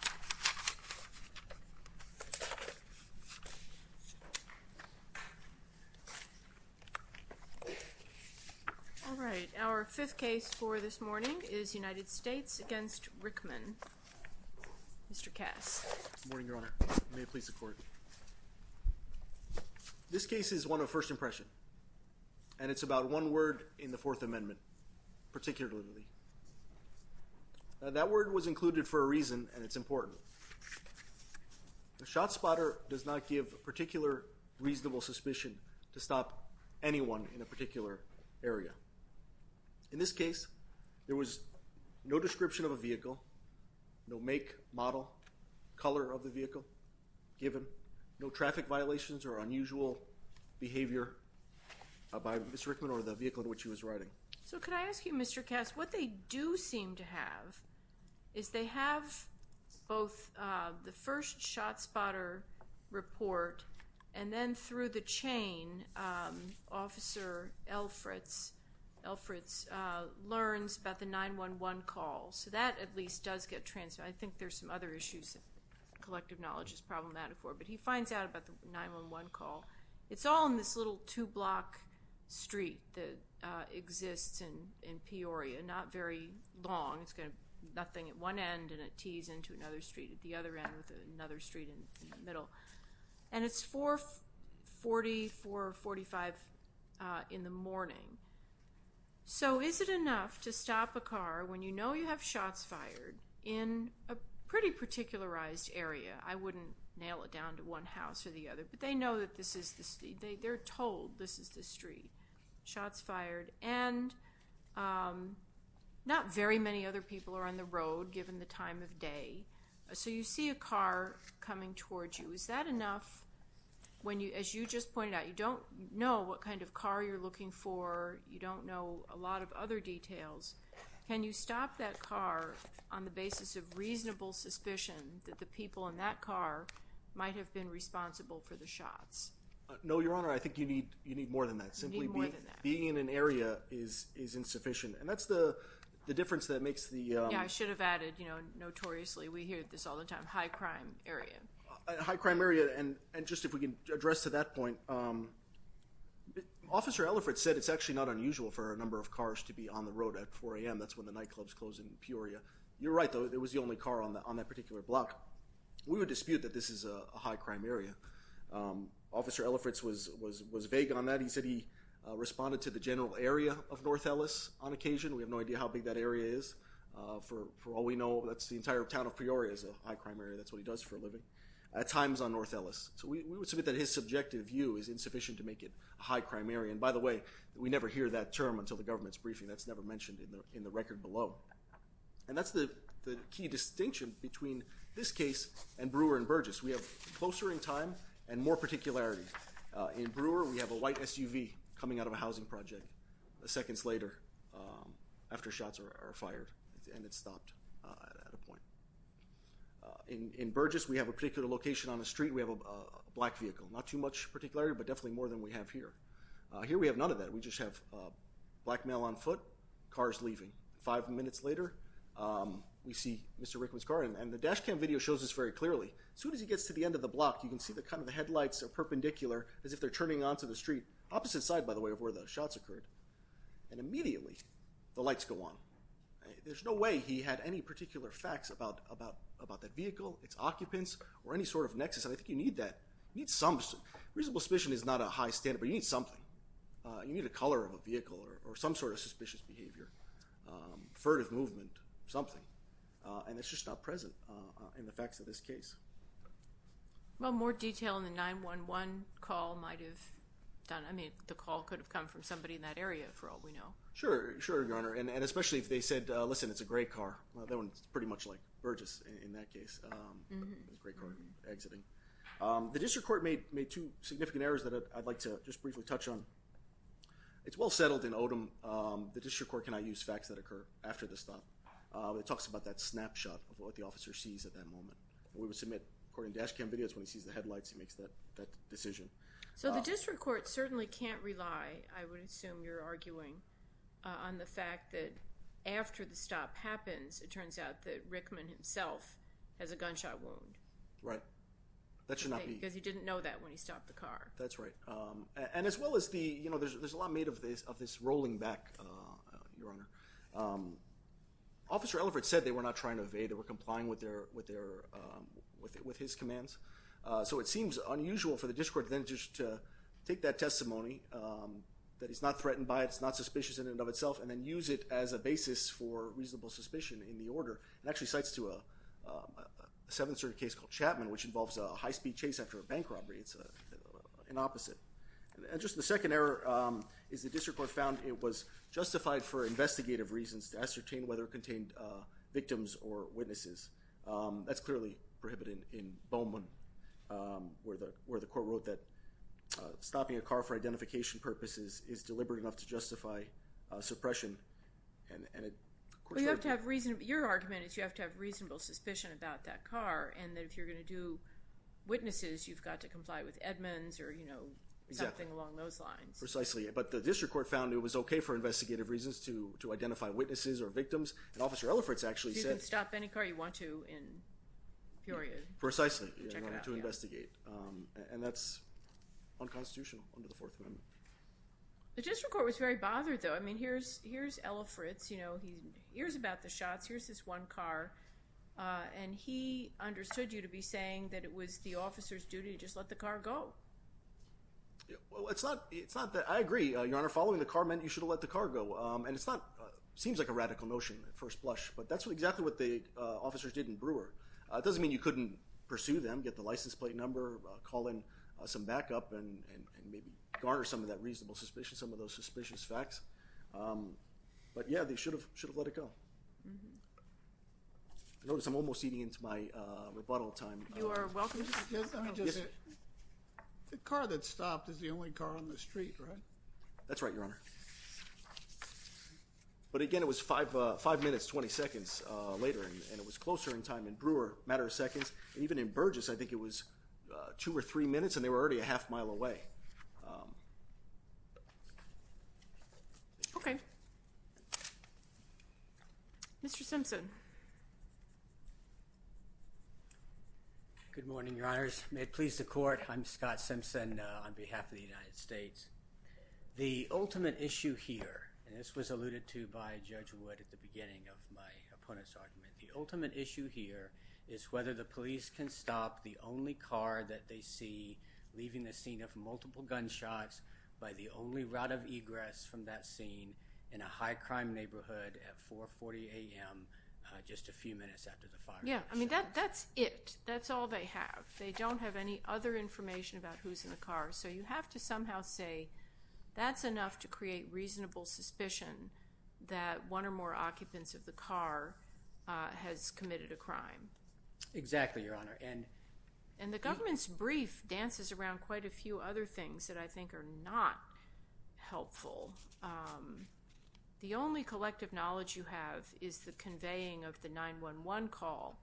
Good morning, Your Honor. May it please the Court. This case is one of first impression, and it's about one word in the Fourth Amendment, particularly. That word was included for a The shot spotter does not give a particular reasonable suspicion to stop anyone in a particular area. In this case, there was no description of a vehicle, no make, model, color of the vehicle given, no traffic violations or unusual behavior by Mr. Rickmon or the vehicle in which he was riding. So could I ask you, Mr. Cass, what they do seem to have is they have both the first shot spotter report and then through the chain, Officer Elfritz learns about the 911 call. So that at least does get transferred. I think there's some other issues that collective knowledge is problematic for, but he finds out about the 911 call. It's all in this little two-block street that exists in Peoria, not very long. It's got nothing at one end and it tees into another street at the other end with another street in the middle. And it's 440, 445 in the morning. So is it enough to stop a car when you know you have shots fired in a pretty particularized area? I wouldn't nail it down to one house or the other, but they know that this is the street. They're told this is the street. Shots fired, and not very many other people are on the road given the time of day. So you see a car coming towards you. Is that enough? When you, as you just pointed out, you don't know what kind of car you're looking for. You don't know a lot of other details. Can you stop that car on the basis of reasonable suspicion that the people in that car might have been responsible for the shots? No, Your Honor, I think you need more than that. Simply being in an area is insufficient. And that's the notoriously, we hear this all the time, high crime area. High crime area, and just if we can address to that point, Officer Ellifritz said it's actually not unusual for a number of cars to be on the road at 4 a.m. That's when the nightclubs close in Peoria. You're right, though. It was the only car on that particular block. We would dispute that this is a high crime area. Officer Ellifritz was vague on that. He said he responded to the general area of North Ellis on occasion. We have no idea how big that area is. For all we know, that's the entire town of Peoria is a high crime area. That's what he does for a living. At times on North Ellis. So we would submit that his subjective view is insufficient to make it a high crime area. And by the way, we never hear that term until the government's briefing. That's never mentioned in the record below. And that's the key distinction between this case and Brewer and Burgess. We have closer in time and more particularity. In Brewer, we have a white SUV coming out of a housing project a second later after shots are fired and it stopped at a point. In Burgess, we have a particular location on the street. We have a black vehicle. Not too much particularity, but definitely more than we have here. Here we have none of that. We just have black male on foot, cars leaving. Five minutes later, we see Mr. Rickman's car. And the dash cam video shows this very clearly. As soon as he gets to the end of the block, you can see the kind of the headlights are perpendicular as they're turning on to the street. Opposite side, by the way, of where the shots occurred. And immediately, the lights go on. There's no way he had any particular facts about that vehicle, its occupants, or any sort of nexus. And I think you need that. Reasonable suspicion is not a high standard, but you need something. You need a color of a vehicle or some sort of suspicious behavior, furtive movement, something. And it's just not present in the facts of this case. Well, more detail on the 911 call might have done. I mean, the call could have come from somebody in that area for all we know. Sure. Sure, Your Honor. And especially if they said, listen, it's a gray car. That one's pretty much like Burgess in that case. It's a gray car exiting. The district court made two significant errors that I'd like to just briefly touch on. It's well settled in Odom. The district court cannot use facts that occur after the stop. It that snapshot of what the officer sees at that moment. We would submit, according to dash cam videos, when he sees the headlights, he makes that decision. So the district court certainly can't rely, I would assume you're arguing, on the fact that after the stop happens, it turns out that Rickman himself has a gunshot wound. Right. That should not be. Because he didn't know that when he stopped the car. That's right. And as well as the, you know, there's a lot made of this rolling back, Your Honor. Officer Ellefrit said they were not trying to evade. They were complying with his commands. So it seems unusual for the district court then just to take that testimony, that he's not threatened by it, it's not suspicious in and of itself, and then use it as a basis for reasonable suspicion in the order. It actually cites to a seven-story case called Chapman, which involves a high-speed chase after a bank robbery. It's an opposite. And just the district court found it was justified for investigative reasons to ascertain whether it contained victims or witnesses. That's clearly prohibited in Bowman, where the court wrote that stopping a car for identification purposes is deliberate enough to justify suppression. Your argument is you have to have reasonable suspicion about that car, and that if you're going to do witnesses, you've got to comply with Edmonds or, you know, something along those lines. Precisely. But the district court found it was okay for investigative reasons to identify witnesses or victims, and Officer Ellefrit's actually said... You can stop any car you want to in period. Precisely, in order to investigate. And that's unconstitutional under the Fourth Amendment. The district court was very bothered, though. I mean, here's Ellefrit's, you know, he hears about the shots, here's this one car, and he understood you to be saying that it was the officer's duty to just let the car go. Well, it's not that... I agree, Your Honor. Following the car meant you should have let the car go. And it's not... seems like a radical notion at first blush, but that's exactly what the officers did in Brewer. It doesn't mean you couldn't pursue them, get the license plate number, call in some backup, and maybe garner some of that reasonable suspicion, some of those suspicious facts. But yeah, they should have let it go. I notice I'm almost eating into my rebuttal time. You are welcome to... The car that stopped is the only car on the street, right? That's right, Your Honor. But again, it was five minutes, 20 seconds later, and it was closer in time in Brewer, a matter of seconds. And even in Burgess, I think it was two or three minutes, and they were already a half mile away. Okay. Mr. Simpson. Good morning, Your Honors. May it please the court, I'm Scott Simpson on behalf of the United States. The ultimate issue here, and this was alluded to by Judge Wood at the beginning of my opponent's argument, the ultimate issue here is whether the police can stop the only car that they see leaving the scene of multiple gunshots by the only route of egress from that scene in a high crime neighborhood at 4.40 a.m. just a few minutes after the fire. I mean, that's it. That's all they have. They don't have any other information about who's in the car. So you have to somehow say that's enough to create reasonable suspicion that one or more occupants of the car has committed a crime. Exactly, Your Honor. And the government's brief dances around quite a few other things that I think are not helpful. The only collective knowledge you have is the conveying of the 911 call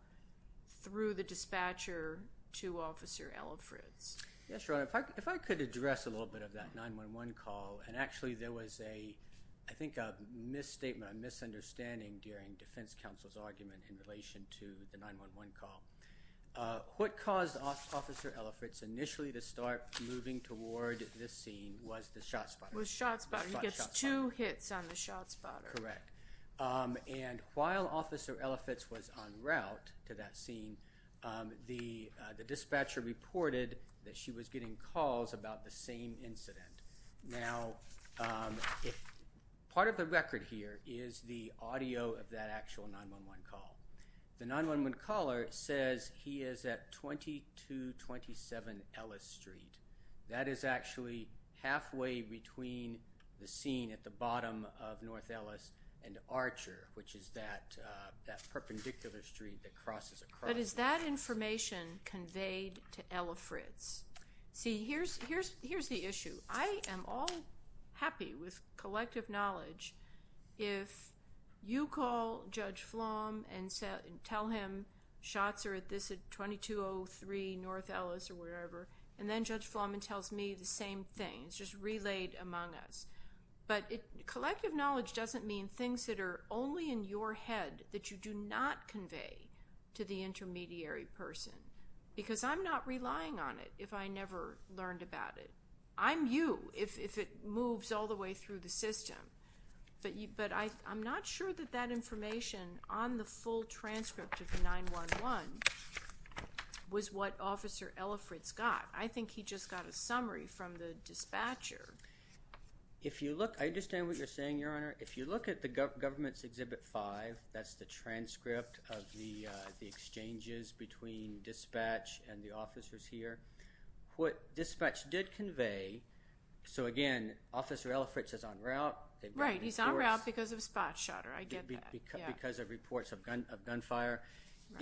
through the dispatcher to Officer Elifritz. Yes, Your Honor. If I could address a little bit of that 911 call, and actually there was a, I think, a misstatement, a misunderstanding during defense counsel's argument in relation to the 911 call. What caused Officer Elifritz initially to start moving toward this scene was the shot spotter. He gets two hits on the shot spotter. Correct. And while Officer Elifritz was en route to that scene, the dispatcher reported that she was getting calls about the same incident. Now, part of the record here is the audio of that actual 911 call. The 911 caller says he is at 2227 Ellis Street. That is actually halfway between the scene at the bottom of North Ellis and Archer, which is that perpendicular street that crosses across. But is that information conveyed to Elifritz? See, here's the issue. I am all happy with collective knowledge if you call Judge Flom and tell him shots are at this at 2203 North Ellis or wherever, and then Judge Flom tells me the same thing. It's just relayed among us. But collective knowledge doesn't mean things that are only in your head that you do not convey to the intermediary person, because I'm not relying on it if I never learned about it. I'm you if it moves all the way through the system. But I'm not sure that that information on the full transcript of the 911 was what Officer Elifritz got. I think he just got a summary from the dispatcher. If you look, I understand what you're saying, Your Honor. If you look at the Government's Exhibit 5, that's the transcript of the exchanges between dispatch and the officers here, what dispatch did convey, so again, Officer Elifritz is on route. Right, he's on route because of a spot shutter. I get that. Because of reports of gunfire,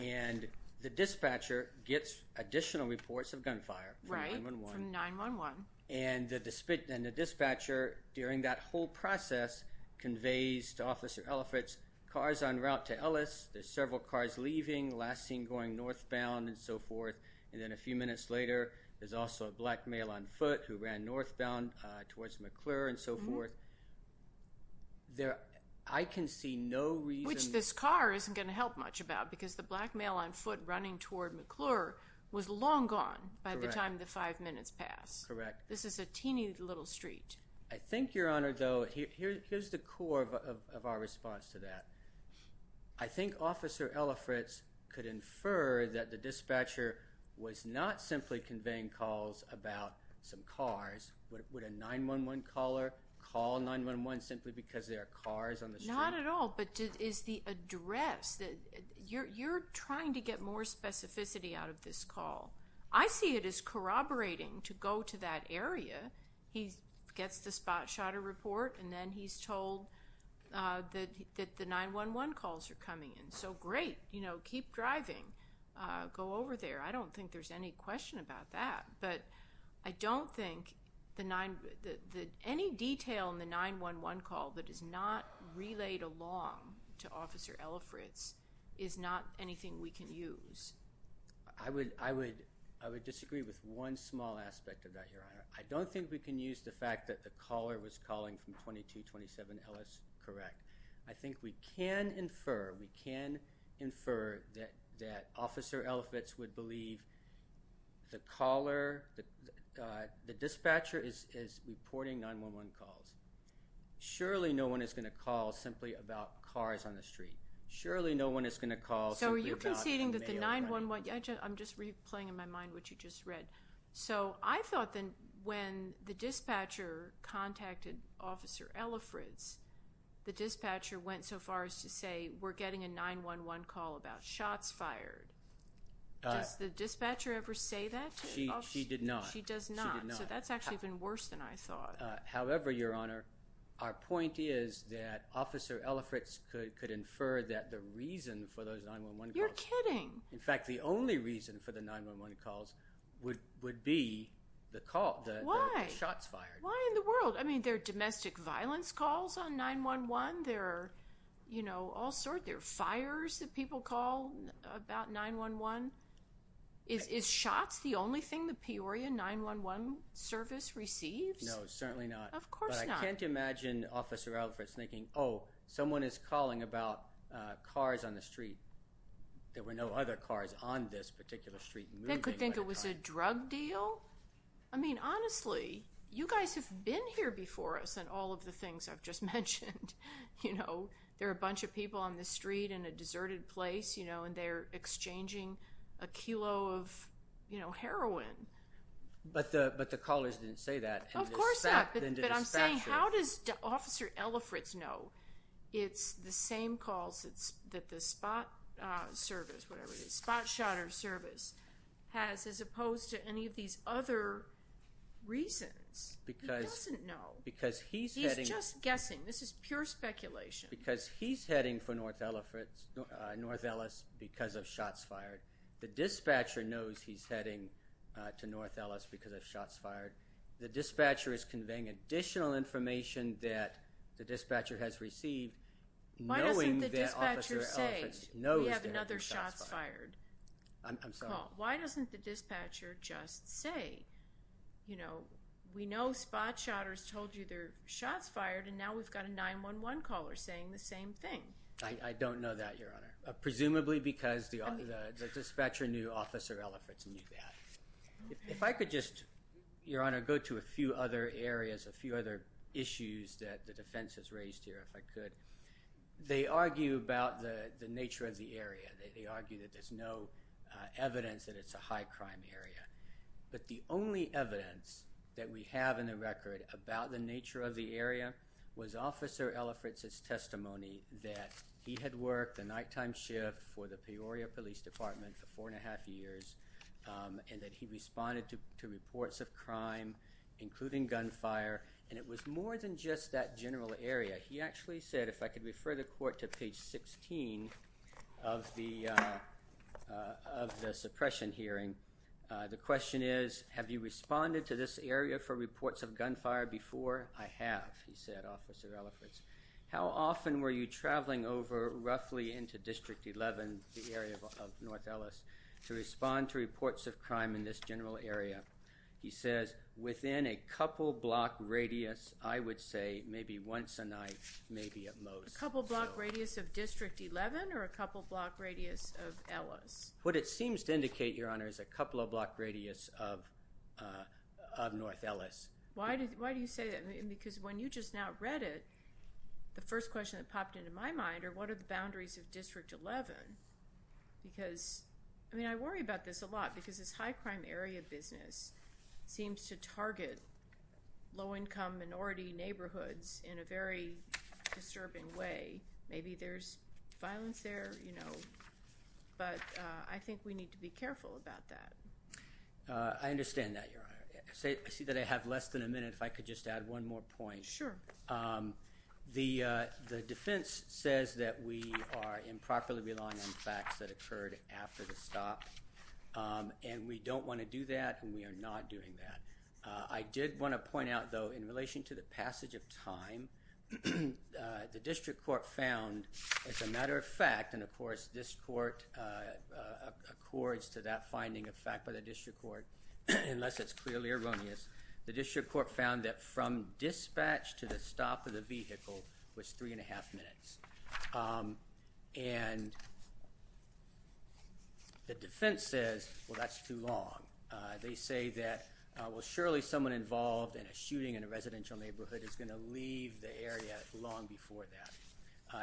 and the dispatcher gets additional reports of gunfire. Right, from 911. And the dispatcher during that whole process conveys to Officer Elifritz, cars on route to Ellis, there's several cars leaving, last seen going northbound and so forth, and then a few minutes later, there's also a black male on foot who ran northbound towards McClure and so forth. I can see no reason... Which this car isn't going to help much about because the black male on foot running toward McClure was long gone by the time the five minutes passed. Correct. This is a teeny little street. I think, Your Honor, though, here's the core of our response to that. I think Officer Elifritz could infer that the dispatcher was not simply conveying calls about some cars. Would a 911 caller call 911 simply because there are cars on the street? Not at all, but it is the address. You're trying to get more specificity out of this call. I see it as corroborating to go to that area, he gets the spot shutter report, and then he's told that the 911 calls are coming in. So great, keep driving, go over there. I don't think there's any question about that, but I don't think any detail in the 911 call that is not relayed along to Officer Elifritz is not anything we can use. I would disagree with one small aspect of that, Your Honor. I don't think we can use the fact that the caller was calling from 2227 Ellis, correct. I think we can infer that Officer Elifritz would believe the caller, the dispatcher is reporting 911 calls. Surely no one is going to call simply about cars on the street. Surely no one is going to call. So are you conceding that the 911, I'm just replaying in my mind what you just read. So I thought then when the dispatcher contacted Officer Elifritz, the dispatcher went so far as to say we're getting a 911 call about shots fired. Does the dispatcher ever say that? She did not. She does not. So that's actually even worse than I thought. However, Your Honor, our point is that Officer Elifritz could infer that the reason for those 911 calls. You're kidding. In fact, the only reason for the 911 calls would be the shots fired. Why in the world? I mean, there are domestic violence calls on 911. There are, you know, all sorts. There are fires that people call about 911. Is shots the only thing the Peoria 911 service receives? No, certainly not. Of course not. But I can't imagine Officer Elifritz thinking, oh, someone is calling about cars on the street. There were no other cars on this particular street moving. It was a drug deal. I mean, honestly, you guys have been here before us in all of the things I've just mentioned. You know, there are a bunch of people on the street in a deserted place, you know, and they're exchanging a kilo of, you know, heroin. But the callers didn't say that. Of course not. But I'm saying how does Officer Elifritz know it's the same calls that the spot service, whatever it is, spot shotter service has as opposed to any of these other reasons? Because he doesn't know. Because he's heading. He's just guessing. This is pure speculation. Because he's heading for North Ellis because of shots fired. The dispatcher knows he's heading to North Ellis because of shots fired. The dispatcher is conveying additional information that the dispatcher has received knowing that Officer Elifritz knows that there are shots fired. I'm sorry. Why doesn't the dispatcher just say, you know, we know spot shotters told you there are shots fired, and now we've got a 911 caller saying the same thing? I don't know that, Your Honor. Presumably because the dispatcher knew Officer Elifritz knew that. If I could just, Your Honor, go to a few other areas, a few other issues that the defense has raised here, if I could. They argue about the nature of the area. They argue that there's no evidence that it's a high crime area. But the only evidence that we have in the record about the nature of the area was Officer Elifritz's testimony that he had worked the nighttime shift for the Peoria Police Department for four and a half years, and that he responded to reports of crime, including gunfire. And it was more than just that general area. He actually said, if I could refer the court to page 16 of the suppression hearing, the question is, have you responded to this area for reports of gunfire before? I have, he said, Officer Elifritz. How often were you traveling over roughly into District 11, the area of North Ellis, to respond to reports of crime in this general area? He says, within a couple block radius, I would say maybe once a night, maybe at most. A couple block radius of District 11 or a couple block radius of Ellis? What it seems to indicate, Your Honor, is a couple of block radius of North Ellis. Why do you say that? Because when you just now read it, the first question that popped into my mind are what are the boundaries of District 11? Because, I mean, I worry about this a lot because this high-crime area business seems to target low-income minority neighborhoods in a very disturbing way. Maybe there's violence there, you know, but I think we need to be careful about that. I understand that, Your Honor. I see that I have less than a minute. If I could just add one more point. Sure. Um, the defense says that we are improperly relying on facts that occurred after the stop, and we don't want to do that, and we are not doing that. I did want to point out, though, in relation to the passage of time, the District Court found, as a matter of fact, and of course, this Court accords to that finding of fact by the District Court, unless it's clearly erroneous, the District Court found that from dispatch to the stop of the vehicle was three and a half minutes. And the defense says, well, that's too long. They say that, well, surely someone involved in a shooting in a residential neighborhood is going to leave the area long before that.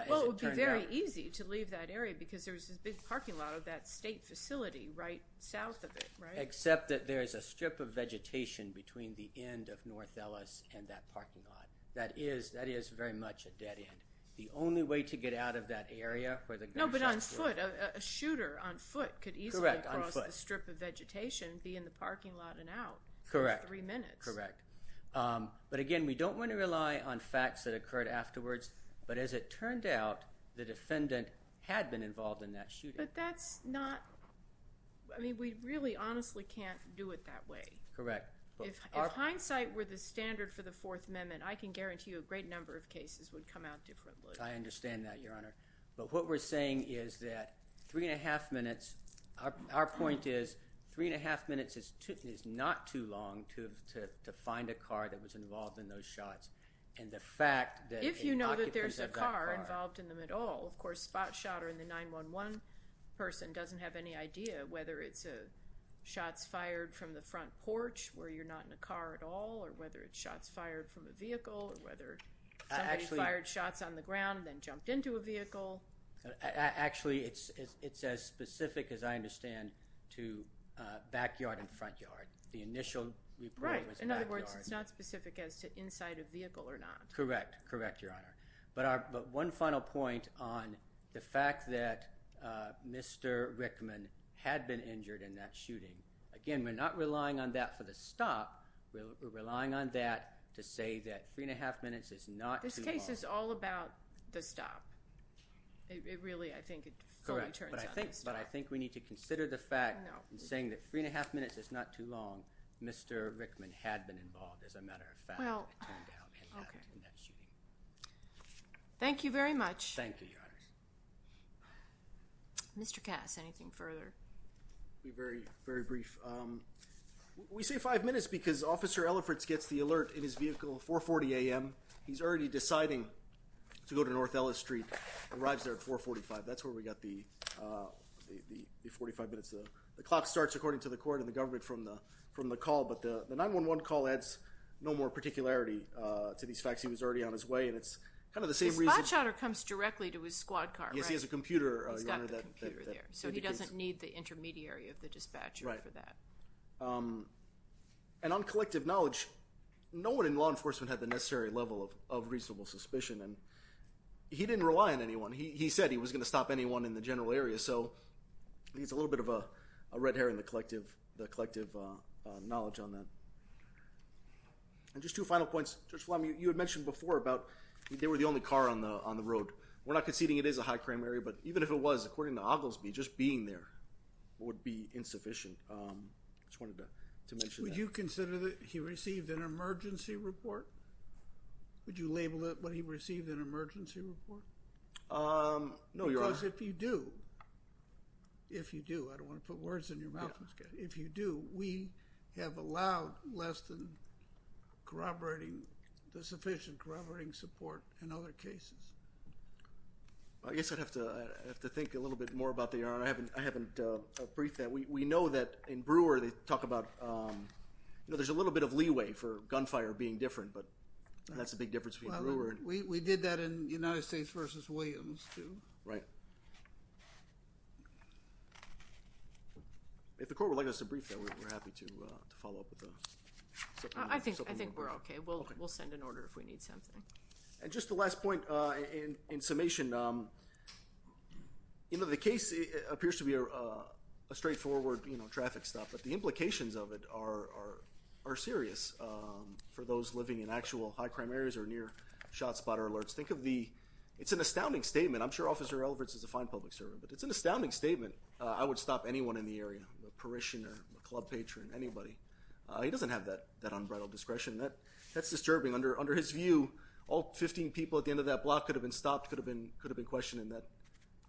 Well, it would be very easy to leave that area because there's this big parking lot of that state facility right south of it, right? Except that there's a strip of vegetation between the end of North Ellis and that parking lot. That is, that is very much a dead end. The only way to get out of that area where the gunshots were. No, but on foot. A shooter on foot could easily cross the strip of vegetation, be in the parking lot and out. Correct. Three minutes. Correct. But again, we don't want to rely on facts that occurred afterwards, but as it turned out, the defendant had been involved in that shooting. But that's not, I mean, we really honestly can't do it that way. Correct. If hindsight were the standard for the Fourth Amendment, I can guarantee you a great number of cases would come out differently. I understand that, Your Honor. But what we're saying is that three and a half minutes, our point is, three and a half minutes is not too long to find a car that was involved in those shots. If you know that there's a car involved in them at all, of course, spot shot or the 911 person doesn't have any idea whether it's shots fired from the front porch where you're not in a car at all, or whether it's shots fired from a vehicle, or whether somebody fired shots on the ground and then jumped into a vehicle. Actually, it's as specific as I understand to backyard and front yard. The initial report was backyard. Right. In other words, it's not specific as to inside a vehicle or not. Correct. Correct, Your Honor. But one final point on the fact that Mr. Rickman had been injured in that shooting. Again, we're not relying on that for the stop. We're relying on that to say that three and a half minutes is not too long. This case is all about the stop. It really, I think, it fully turns on the stop. But I think we need to consider the fact in saying that three and a half minutes is not too long, Mr. Rickman had been involved, as a matter of fact, it turned out he had been in that shooting. Thank you very much. Thank you, Your Honor. Mr. Cass, anything further? Be very, very brief. We say five minutes because Officer Ellifritz gets the alert in his vehicle at 4.40 a.m. He's already deciding to go to North Ellis Street, arrives there at 4.45. That's where we got the 45 minutes. The clock starts according to the court and the government from the call. But the 911 call adds no more particularity to these facts. He was already on his way. And it's kind of the same reason. The spot shotter comes directly to his squad car, right? Yes, he has a computer, Your Honor, that indicates. So he doesn't need the intermediary of the dispatcher for that. And on collective knowledge, no one in law enforcement had the necessary level of reasonable suspicion. And he didn't rely on anyone. He said he was going to stop anyone in the general area. So I think it's a little bit of a red herring, the collective knowledge on that. And just two final points. Judge Flanagan, you had mentioned before about they were the only car on the road. We're not conceding it is a high crime area. But even if it was, according to Oglesby, just being there would be insufficient. I just wanted to mention that. Would you consider that he received an emergency report? Would you label it when he received an emergency report? No, Your Honor. Because if you do, if you do, I don't want to put words in your mouth. If you do, we have allowed less than corroborating, the sufficient corroborating support in other cases. I guess I'd have to think a little bit more about that, Your Honor. I haven't briefed that. We know that in Brewer, they talk about, you know, there's a little bit of leeway for gunfire being different. But that's a big difference between Brewer and... We did that in United States v. Williams, too. Right. If the court would like us to brief that, we're happy to follow up with the... I think we're okay. We'll send an order if we need something. And just the last point, in summation, you know, the case appears to be a straightforward, you know, traffic stop. But the implications of it are serious for those living in actual high crime areas or near shot spot or alerts. Think of the... It's an astounding statement. I'm sure Officer Elliverts is a fine public servant, but it's an astounding statement. I would stop anyone in the area, a parishioner, a club patron, anybody. He doesn't have that unbridled discretion. That's disturbing. Under his view, all 15 people at the end of that block could have been stopped, could have been questioned in that...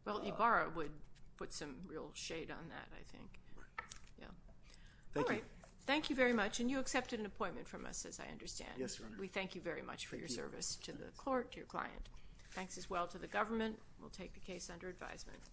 Well, Ibarra would put some real shade on that, I think. Right. Yeah. All right. Thank you very much. And you accepted an appointment from us, as I understand. Yes, Your Honor. We thank you very much for your service to the court, to your client. Thanks as well to the government. We'll take the case under advisement.